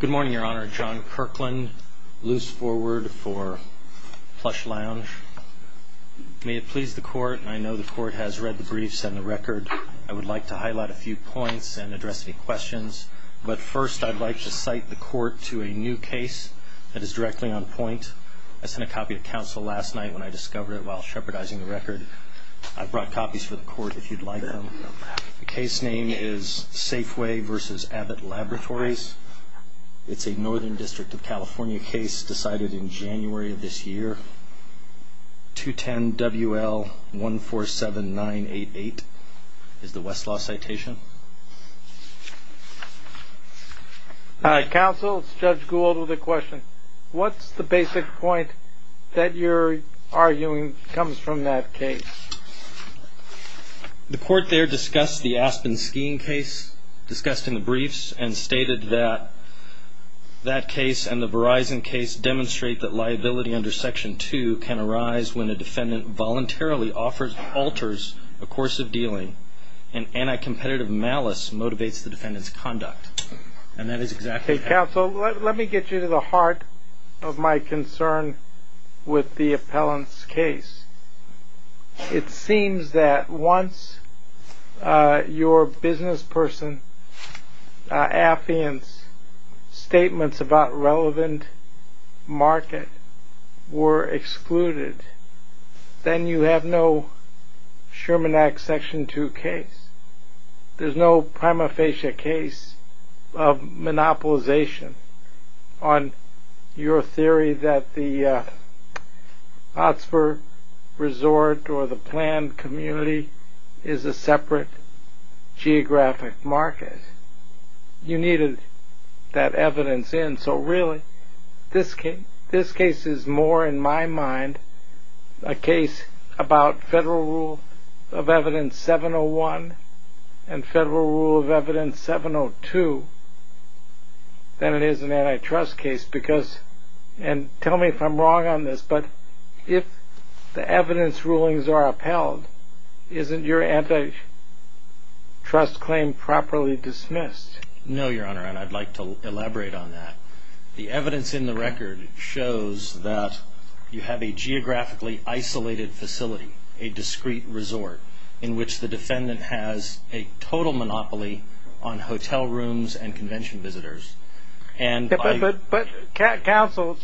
Good morning, your honor. John Kirkland, loose forward for Plush Lounge. May it please the court, I know the court has read the briefs and the record. I would like to highlight a few points and address any questions, but first I'd like to cite the court to a new case that is directly on point. I sent a copy to counsel last night when I discovered it while shepherdizing the record. I brought copies for the court if you'd like them. The is a Northern District of California case decided in January of this year. 210 WL 147988 is the Westlaw citation. Counsel, it's Judge Gould with a question. What's the basic point that you're arguing comes from that case? The court there discussed the Aspen skiing case discussed in the briefs and stated that that case and the Verizon case demonstrate that liability under section two can arise when a defendant voluntarily offers, alters a course of dealing and anti-competitive malice motivates the defendant's conduct. And that is exactly. Counsel, let me get you to the heart of my concern with the appellant's case. It seems that once your business person, affiance statements about relevant market were excluded, then you have no Sherman Act section two case. There's no prima facie case of monopolization on your theory that the Oxford resort or the planned community is a separate geographic market. You needed that evidence in. So really, this case is more in my mind a case about federal rule of evidence 701 and federal rule of evidence 702 than it is a case of federal rule of evidence 703. I'm not sure that that is an anti-trust case because, and tell me if I'm wrong on this, but if the evidence rulings are upheld, isn't your anti-trust claim properly dismissed? No, Your Honor, and I'd like to elaborate on that. The evidence in the record shows that you have a geographically isolated facility, a discreet resort in which the defendant has a total monopoly on hotel rooms and convention visitors. But counsel,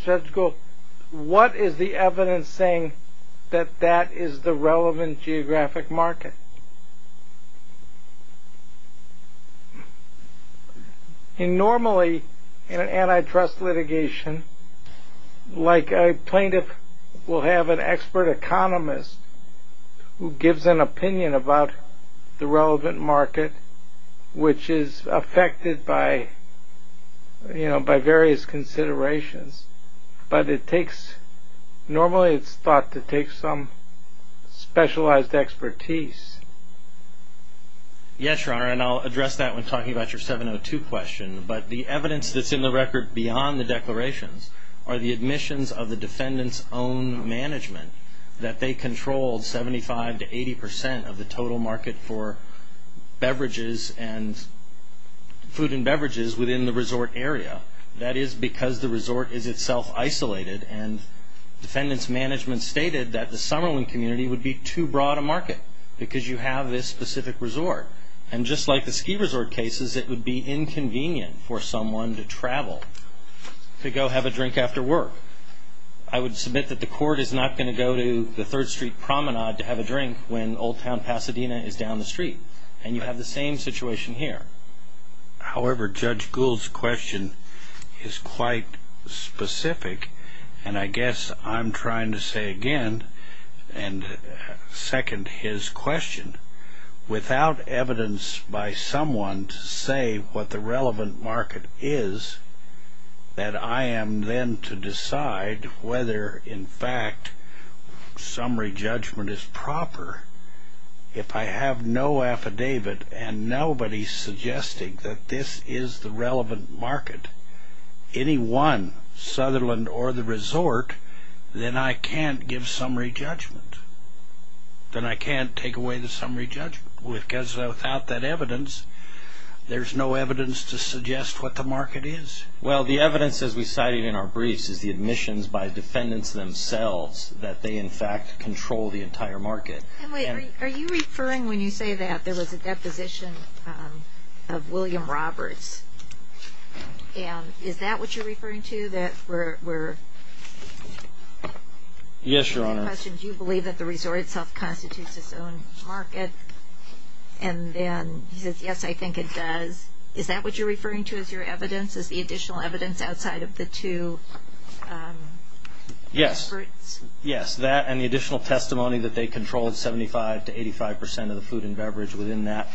what is the evidence saying that that is the relevant geographic market? Normally, in an anti-trust litigation, like a plaintiff will have an expert economist who gives an opinion about the relevant market, which is affected by various considerations. But it takes, normally it's thought to take some specialized expertise. Yes, Your Honor, and I'll address that when talking about your 702 question. But the evidence that's in the record beyond the declarations are the admissions of the defendant's own management, that they controlled 75 to 80 percent of the total market for beverages and food and beverages within the resort area. That is because the resort is itself isolated and defendant's management stated that the Summerlin community would be too broad a market because you have this specific resort. And just like the ski resort cases, it would be inconvenient for someone to travel, to go have a drink after work. I would submit that the court is not going to go to the 3rd Street Promenade to have a drink when Old Town Pasadena is down the street. And you have the same situation here. However, Judge Gould's question is quite specific. And I guess I'm trying to say again, and second his question, without evidence by someone to say what the relevant market is, that I am then to decide whether in fact summary judgment is proper. If I have no affidavit and nobody's suggesting that this is the relevant market, any one, Sutherland or the resort, then I can't give summary judgment. Then I can't take away the summary judgment because without that evidence, there's no evidence to suggest what the market is. Well, the evidence as we cited in our briefs is the admissions by defendants themselves that they in fact control the entire market. Are you referring, when you say that, there was a deposition of William Roberts? And is that what you're referring to, that we're... Yes, Your Honor. In your question, do you believe that the resort itself constitutes its own market? And then he says, yes, I think it does. Is that what you're referring to as your evidence? Is the additional evidence outside of the two... Yes. ...experts? Yes, that and the additional testimony that they controlled 75 to 85 percent of the food and beverage within that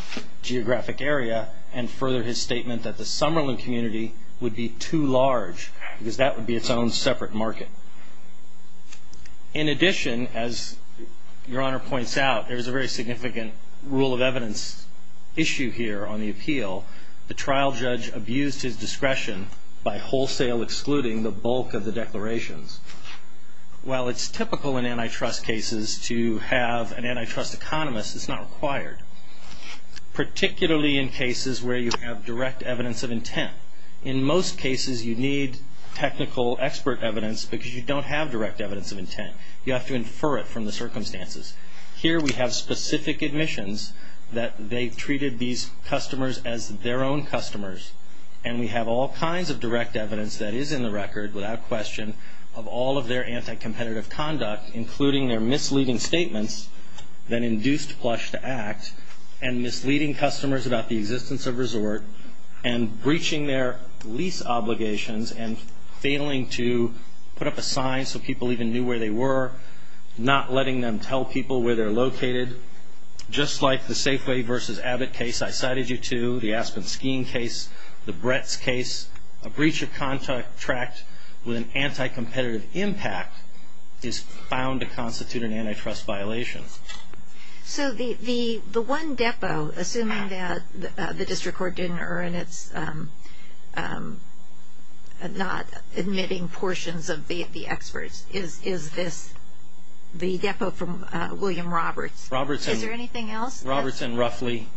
geographic area, and further his statement that the Summerlin community would be too large, because that would be its own separate market. In addition, as Your Honor points out, there's a very significant rule of evidence issue here on the appeal. The trial judge abused his discretion by wholesale excluding the bulk of the declarations. While it's typical in antitrust cases to have an antitrust economist, it's not required, particularly in cases where you have direct evidence of intent. In most cases, you need technical expert evidence, because you don't have direct evidence of intent. You have to infer it from the circumstances. Here we have specific admissions that they treated these customers as their own customers, and we have all kinds of direct evidence that is in the record, without question, of all of their anti-competitive conduct, including their misleading statements that induced Plush to act, and misleading customers about the existence of resort, and breaching their lease obligations, and failing to put up a sign so people even knew where they were, not letting them tell people where they're located. Just like the Safeway versus Abbott case I cited you to, the Aspen skiing case, the Brett's case, a breach of contract with an anti-competitive impact is found to constitute an antitrust violation. So the one depot, assuming that the District Court didn't earn its not admitting portions of the experts, is this, the depot from William Roberts. Robertson. Is there anything else? Robertson, roughly,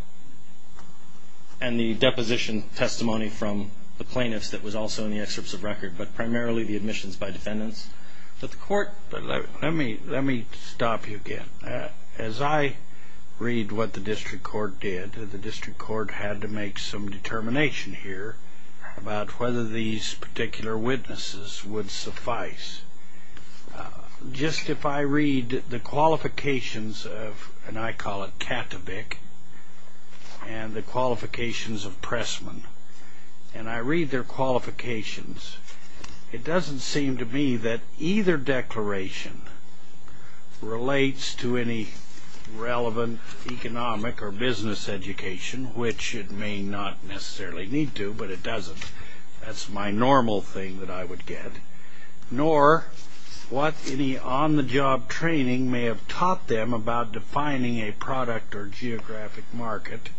and the deposition testimony from the plaintiffs that was also in the excerpts of record, but primarily the admissions by defendants, that the court, let me, let me stop you again. As I read what the District Court did, the District Court had to make some determination here about whether these particular witnesses would suffice. Just if I read the qualifications of, and I call it Kattebick, and the qualifications of Pressman, and I read their qualifications, it doesn't seem to me that either declaration relates to any relevant economic or business education, which it may not necessarily need to, but it doesn't. That's my normal thing that I would get. Nor what any on-the-job training may have taught them about defining a product or geographic market,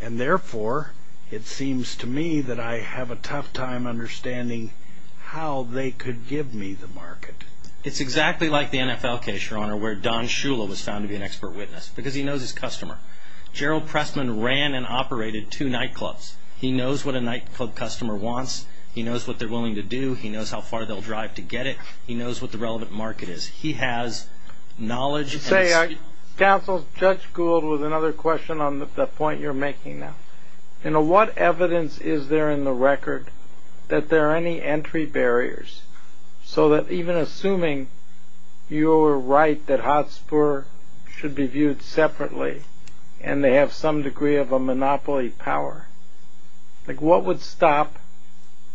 and therefore, it seems to me that I have a tough time understanding how they could give me the market. It's exactly like the NFL case, Your Honor, where Don Shula was found to be an expert witness, because he knows his customer. Gerald Pressman ran and operated two nightclubs. He knows what a nightclub customer wants. He knows what they're willing to do. He knows how far they'll drive to get it. He knows what the relevant market is. He has knowledge and experience. Counsel, Judge Gould with another question on the point you're making now. You know, what evidence is there in the record that there are any entry barriers? So that even assuming you're right that Hotspur should be viewed separately, and they have some degree of a monopoly power, like what would stop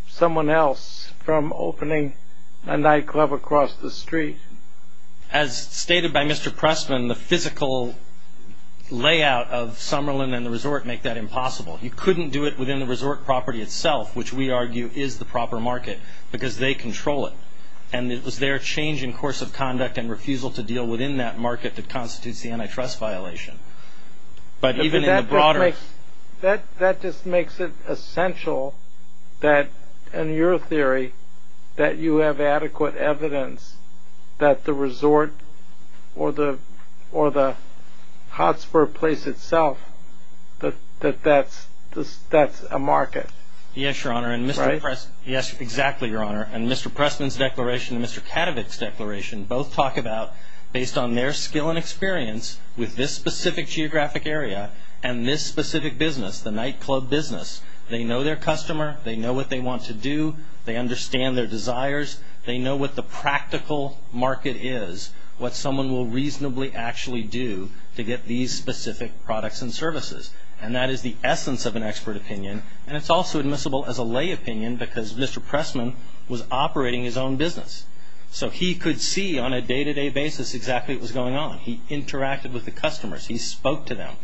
someone else from opening a nightclub across the street? As stated by Mr. Pressman, the physical layout of Summerlin and the resort make that impossible. You couldn't do it within the resort property itself, which we argue is the proper market, because they control it. And it was their change in course of conduct and refusal to deal within that market that constitutes the antitrust violation. But even in the broader That just makes it essential that, in your theory, that you have adequate evidence to that the resort or the Hotspur place itself, that that's a market. Yes, Your Honor. And Mr. Pressman's declaration and Mr. Katowick's declaration both talk about, based on their skill and experience with this specific geographic area and this specific business, the nightclub business, they know their customer, they know what they want to what someone will reasonably actually do to get these specific products and services. And that is the essence of an expert opinion, and it's also admissible as a lay opinion because Mr. Pressman was operating his own business. So he could see on a day-to-day basis exactly what was going on. He interacted with the customers. He spoke to them.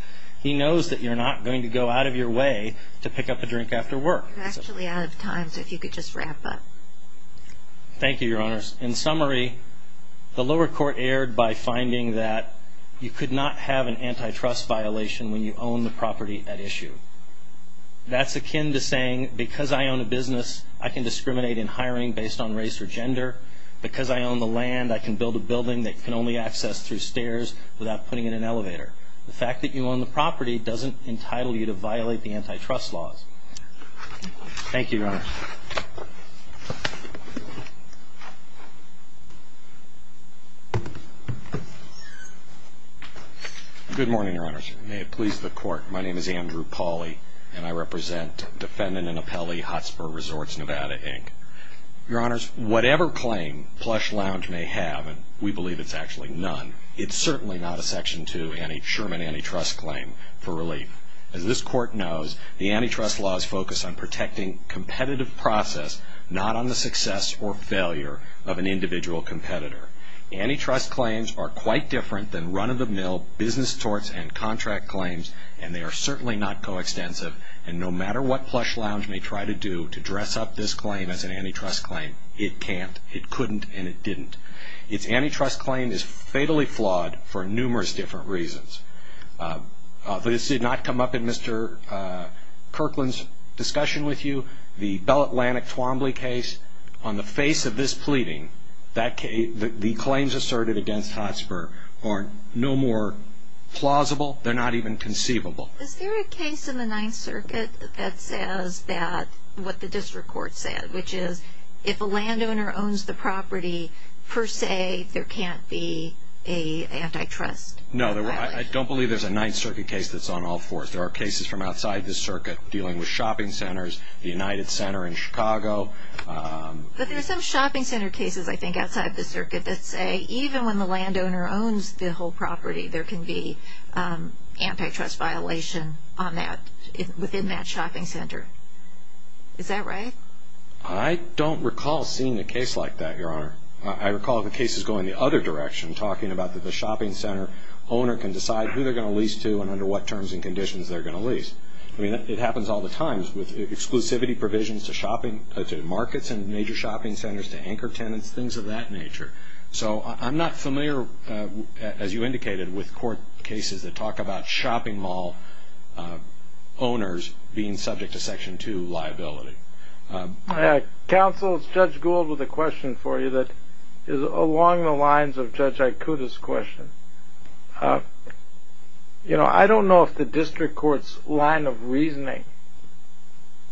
He knows that you're not going to go out of your way to pick up a drink after work. You're actually out of time, so if you could just wrap up. Thank you, Your Honors. In summary, the lower court erred by finding that you could not have an antitrust violation when you own the property at issue. That's akin to saying, because I own a business, I can discriminate in hiring based on race or gender. Because I own the land, I can build a building that can only access through stairs without putting in an elevator. The fact that you own the property doesn't entitle you to violate the antitrust laws. Thank you, Your Honors. Good morning, Your Honors. May it please the Court, my name is Andrew Pauly, and I represent defendant and appellee, Hotspur Resorts, Nevada, Inc. Your Honors, whatever claim Plush Lounge may have, and we believe it's actually none, it's certainly not a Section 2 Sherman antitrust claim for relief. As this Court knows, the antitrust laws focus on protecting competitive process, not on the success or failure of an individual competitor. Antitrust claims are quite different than run-of-the-mill business torts and contract claims, and they are certainly not coextensive. And no matter what Plush Lounge may try to do to dress up this claim as an antitrust claim, it can't, it couldn't, and it didn't. Its antitrust claim is fatally flawed for numerous different reasons. This did not come up in Mr. Kirkland's discussion with you, the Bell Atlantic Twombly case. On the face of this pleading, the claims asserted against Hotspur are no more plausible, they're not even conceivable. Is there a case in the Ninth Circuit that says that, what the District Court said, which says there can't be an antitrust? No, I don't believe there's a Ninth Circuit case that's on all fours. There are cases from outside the Circuit dealing with shopping centers, the United Center in Chicago. But there's some shopping center cases, I think, outside the Circuit that say even when the landowner owns the whole property, there can be antitrust violation on that, within that shopping center. Is that right? I don't recall seeing a case like that, Your Honor. I recall the cases going the other direction, talking about that the shopping center owner can decide who they're going to lease to and under what terms and conditions they're going to lease. I mean, it happens all the time with exclusivity provisions to markets and major shopping centers, to anchor tenants, things of that nature. So I'm not familiar, as you indicated, with court cases that talk about shopping mall owners being subject to Section 2 liability. Counsel, it's Judge Gould with a question for you that is along the lines of Judge Aikuda's question. You know, I don't know if the District Court's line of reasoning,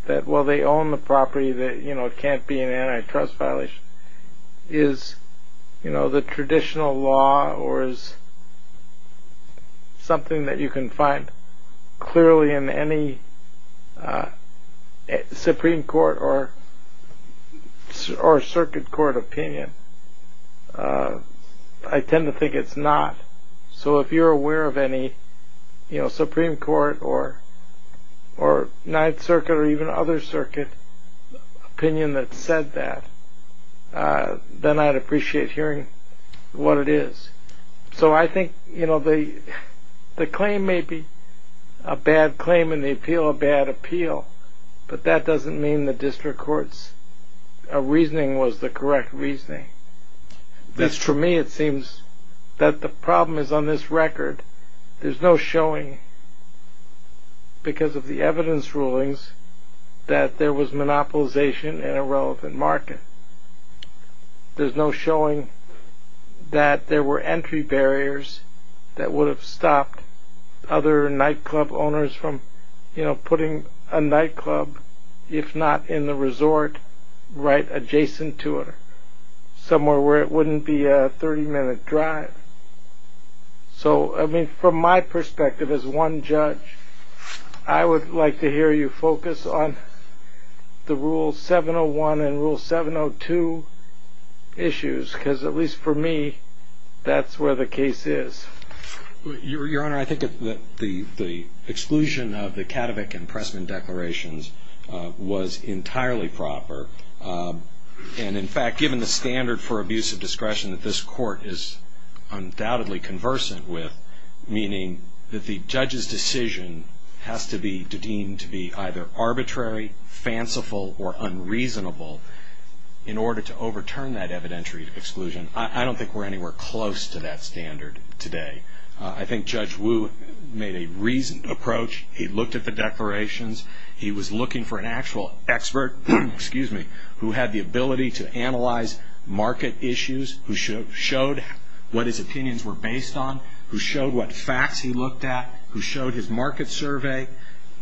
that while they own the property, that it can't be an antitrust violation. Is, you know, the traditional law or is something that you can find clearly in any Supreme Court or Circuit Court opinion? I tend to think it's not. So if you're aware of any, you know, then I'd appreciate hearing what it is. So I think, you know, the claim may be a bad claim in the appeal, a bad appeal, but that doesn't mean the District Court's reasoning was the correct reasoning. For me, it seems that the problem is on this record. There's no showing because of the evidence rulings that there was monopolization in a relevant market. There's no showing that there were entry barriers that would have stopped other nightclub owners from, you know, putting a nightclub, if not in the resort, right adjacent to it, somewhere where it wouldn't be a 30-minute drive. So, I mean, from my perspective as one judge, I would like to hear you focus on the Rule 701 and Rule 702 issues because at least for me, that's where the case is. Your Honor, I think that the exclusion of the Katowick and Pressman declarations was entirely proper. And in fact, given the standard for abuse of discretion that this Court is undoubtedly conversant with, meaning that the judge's decision has to be deemed to be either arbitrary, fanciful, or unreasonable in order to overturn that evidentiary exclusion, I don't think we're anywhere close to that standard today. I think Judge Wu made a reasoned approach. He looked at the declarations. He was looking for an actual expert, excuse me, who had the ability to analyze market issues, who showed what his opinions were based on, who showed what facts he looked at, who showed his market survey.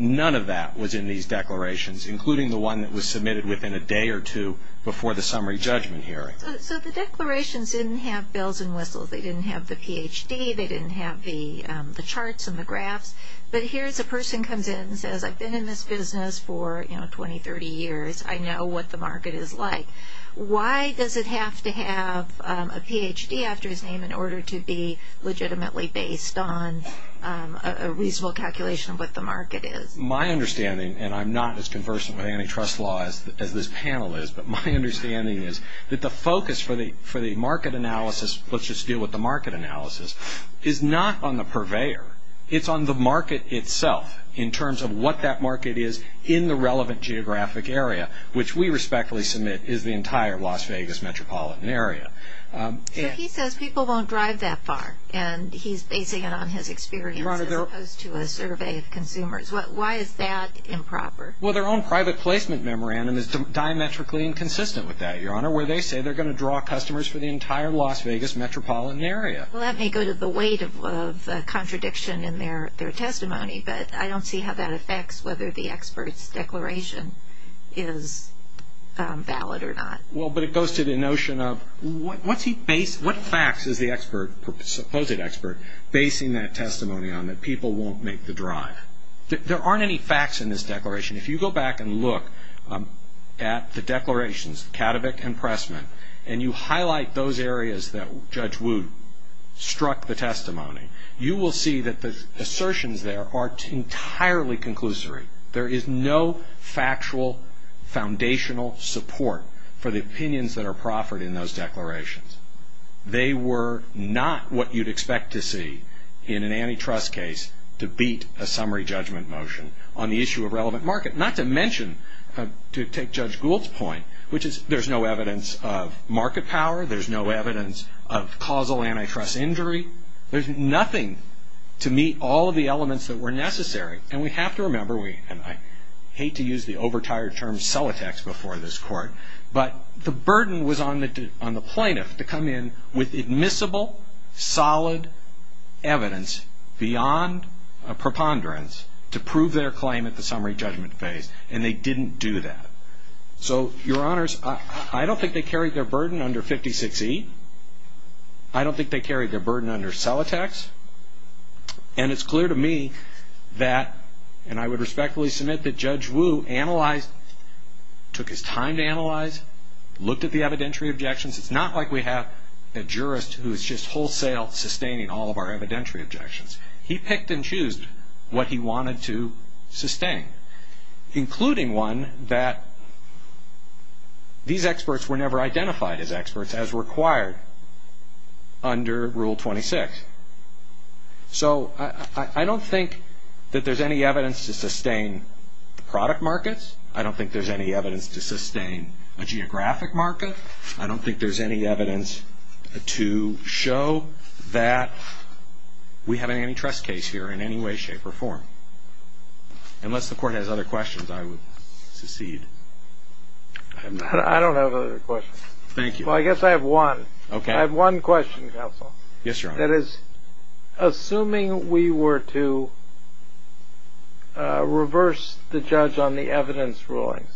None of that was in these declarations, including the one that was submitted within a day or two before the summary judgment hearing. So the declarations didn't have bells and whistles. They didn't have the PhD. They didn't have the charts and the graphs. But here's a person comes in and says, I've been in this business for, you know, 20, 30 years. I know what the market is like. Why does it have to have a PhD after his name in order to be legitimately based on a reasonable calculation of what the market is? My understanding, and I'm not as conversant with antitrust law as this panel is, but my understanding is that the focus for the market analysis, let's just deal with the market analysis, is not on the purveyor. It's on the market itself in terms of what that market is in the relevant geographic area, which we respectfully submit is the entire Las Vegas metropolitan area. So he says people won't drive that far, and he's basing it on his experience as opposed to a survey of consumers. Why is that improper? Well, their own private placement memorandum is diametrically inconsistent with that, Your Honor, where they say they're going to draw customers for the entire Las Vegas metropolitan area. Well, that may go to the weight of contradiction in their testimony, but I don't see how that expert's declaration is valid or not. Well, but it goes to the notion of what facts is the supposed expert basing that testimony on that people won't make the drive? There aren't any facts in this declaration. If you go back and look at the declarations, Katowick and Pressman, and you highlight those areas that Judge Wood struck the testimony, you will see that the assertions there are entirely conclusory. There is no factual foundational support for the opinions that are proffered in those declarations. They were not what you'd expect to see in an antitrust case to beat a summary judgment motion on the issue of relevant market, not to mention, to take Judge Gould's point, which is there's no evidence of market power. There's no evidence of causal antitrust injury. There's nothing to meet all of the elements that were necessary, and we have to remember, and I hate to use the overtired term, cell attacks before this Court, but the burden was on the plaintiff to come in with admissible, solid evidence beyond a preponderance to prove their claim at the summary judgment phase, and they didn't do that. So Your Honors, I don't think they carried their burden under 56E. I don't think they did that. And it's clear to me that, and I would respectfully submit that Judge Woo analyzed, took his time to analyze, looked at the evidentiary objections. It's not like we have a jurist who is just wholesale sustaining all of our evidentiary objections. He picked and chose what he wanted to sustain, including one that these experts were never identified as experts, as required under Rule 26. So I don't think that there's any evidence to sustain product markets. I don't think there's any evidence to sustain a geographic market. I don't think there's any evidence to show that we have an antitrust case here in any way, shape, or form. Unless the Court has other questions, I would secede. I don't have other questions. Thank you. Well, I guess I have one. Okay. I have one question, Counsel. Yes, Your Honor. That is, assuming we were to reverse the judge on the evidence rulings,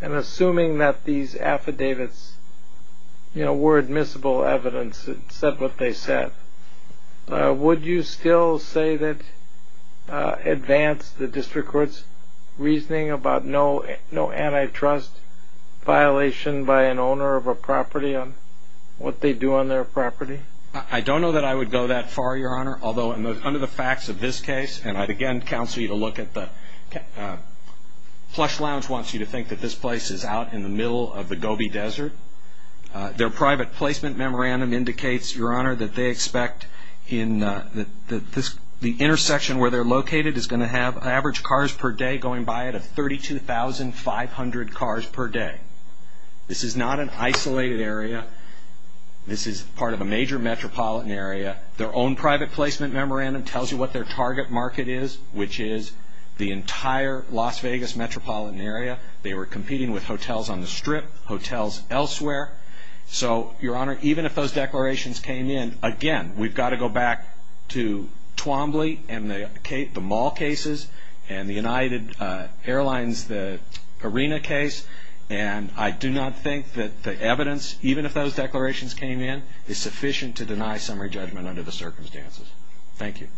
and assuming that these affidavits were admissible evidence and said what they said, would you still say that this affidavit advanced the District Court's reasoning about no antitrust violation by an owner of a property on what they do on their property? I don't know that I would go that far, Your Honor. Although, under the facts of this case, and I'd again counsel you to look at the – Plush Lounge wants you to think that this place is out in the middle of the Gobi Desert. Their private placement memorandum indicates, Your Honor, the intersection where they're located is going to have an average cars per day going by it of 32,500 cars per day. This is not an isolated area. This is part of a major metropolitan area. Their own private placement memorandum tells you what their target market is, which is the entire Las Vegas metropolitan area. They were competing with hotels on the Strip, hotels elsewhere. So, Your Honor, even if those declarations came in, again, we've seen the Mall cases and the United Airlines, the Arena case, and I do not think that the evidence, even if those declarations came in, is sufficient to deny summary judgment under the circumstances. Thank you.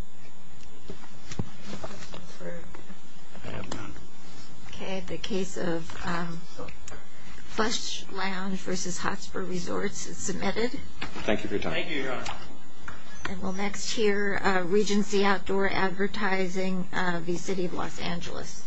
Okay. The case of Plush Lounge v. Hotspur Resorts is submitted. Thank you for your time. Thank you, Your Honor. And we'll next hear Regency Outdoor Advertising v. City of Los Angeles.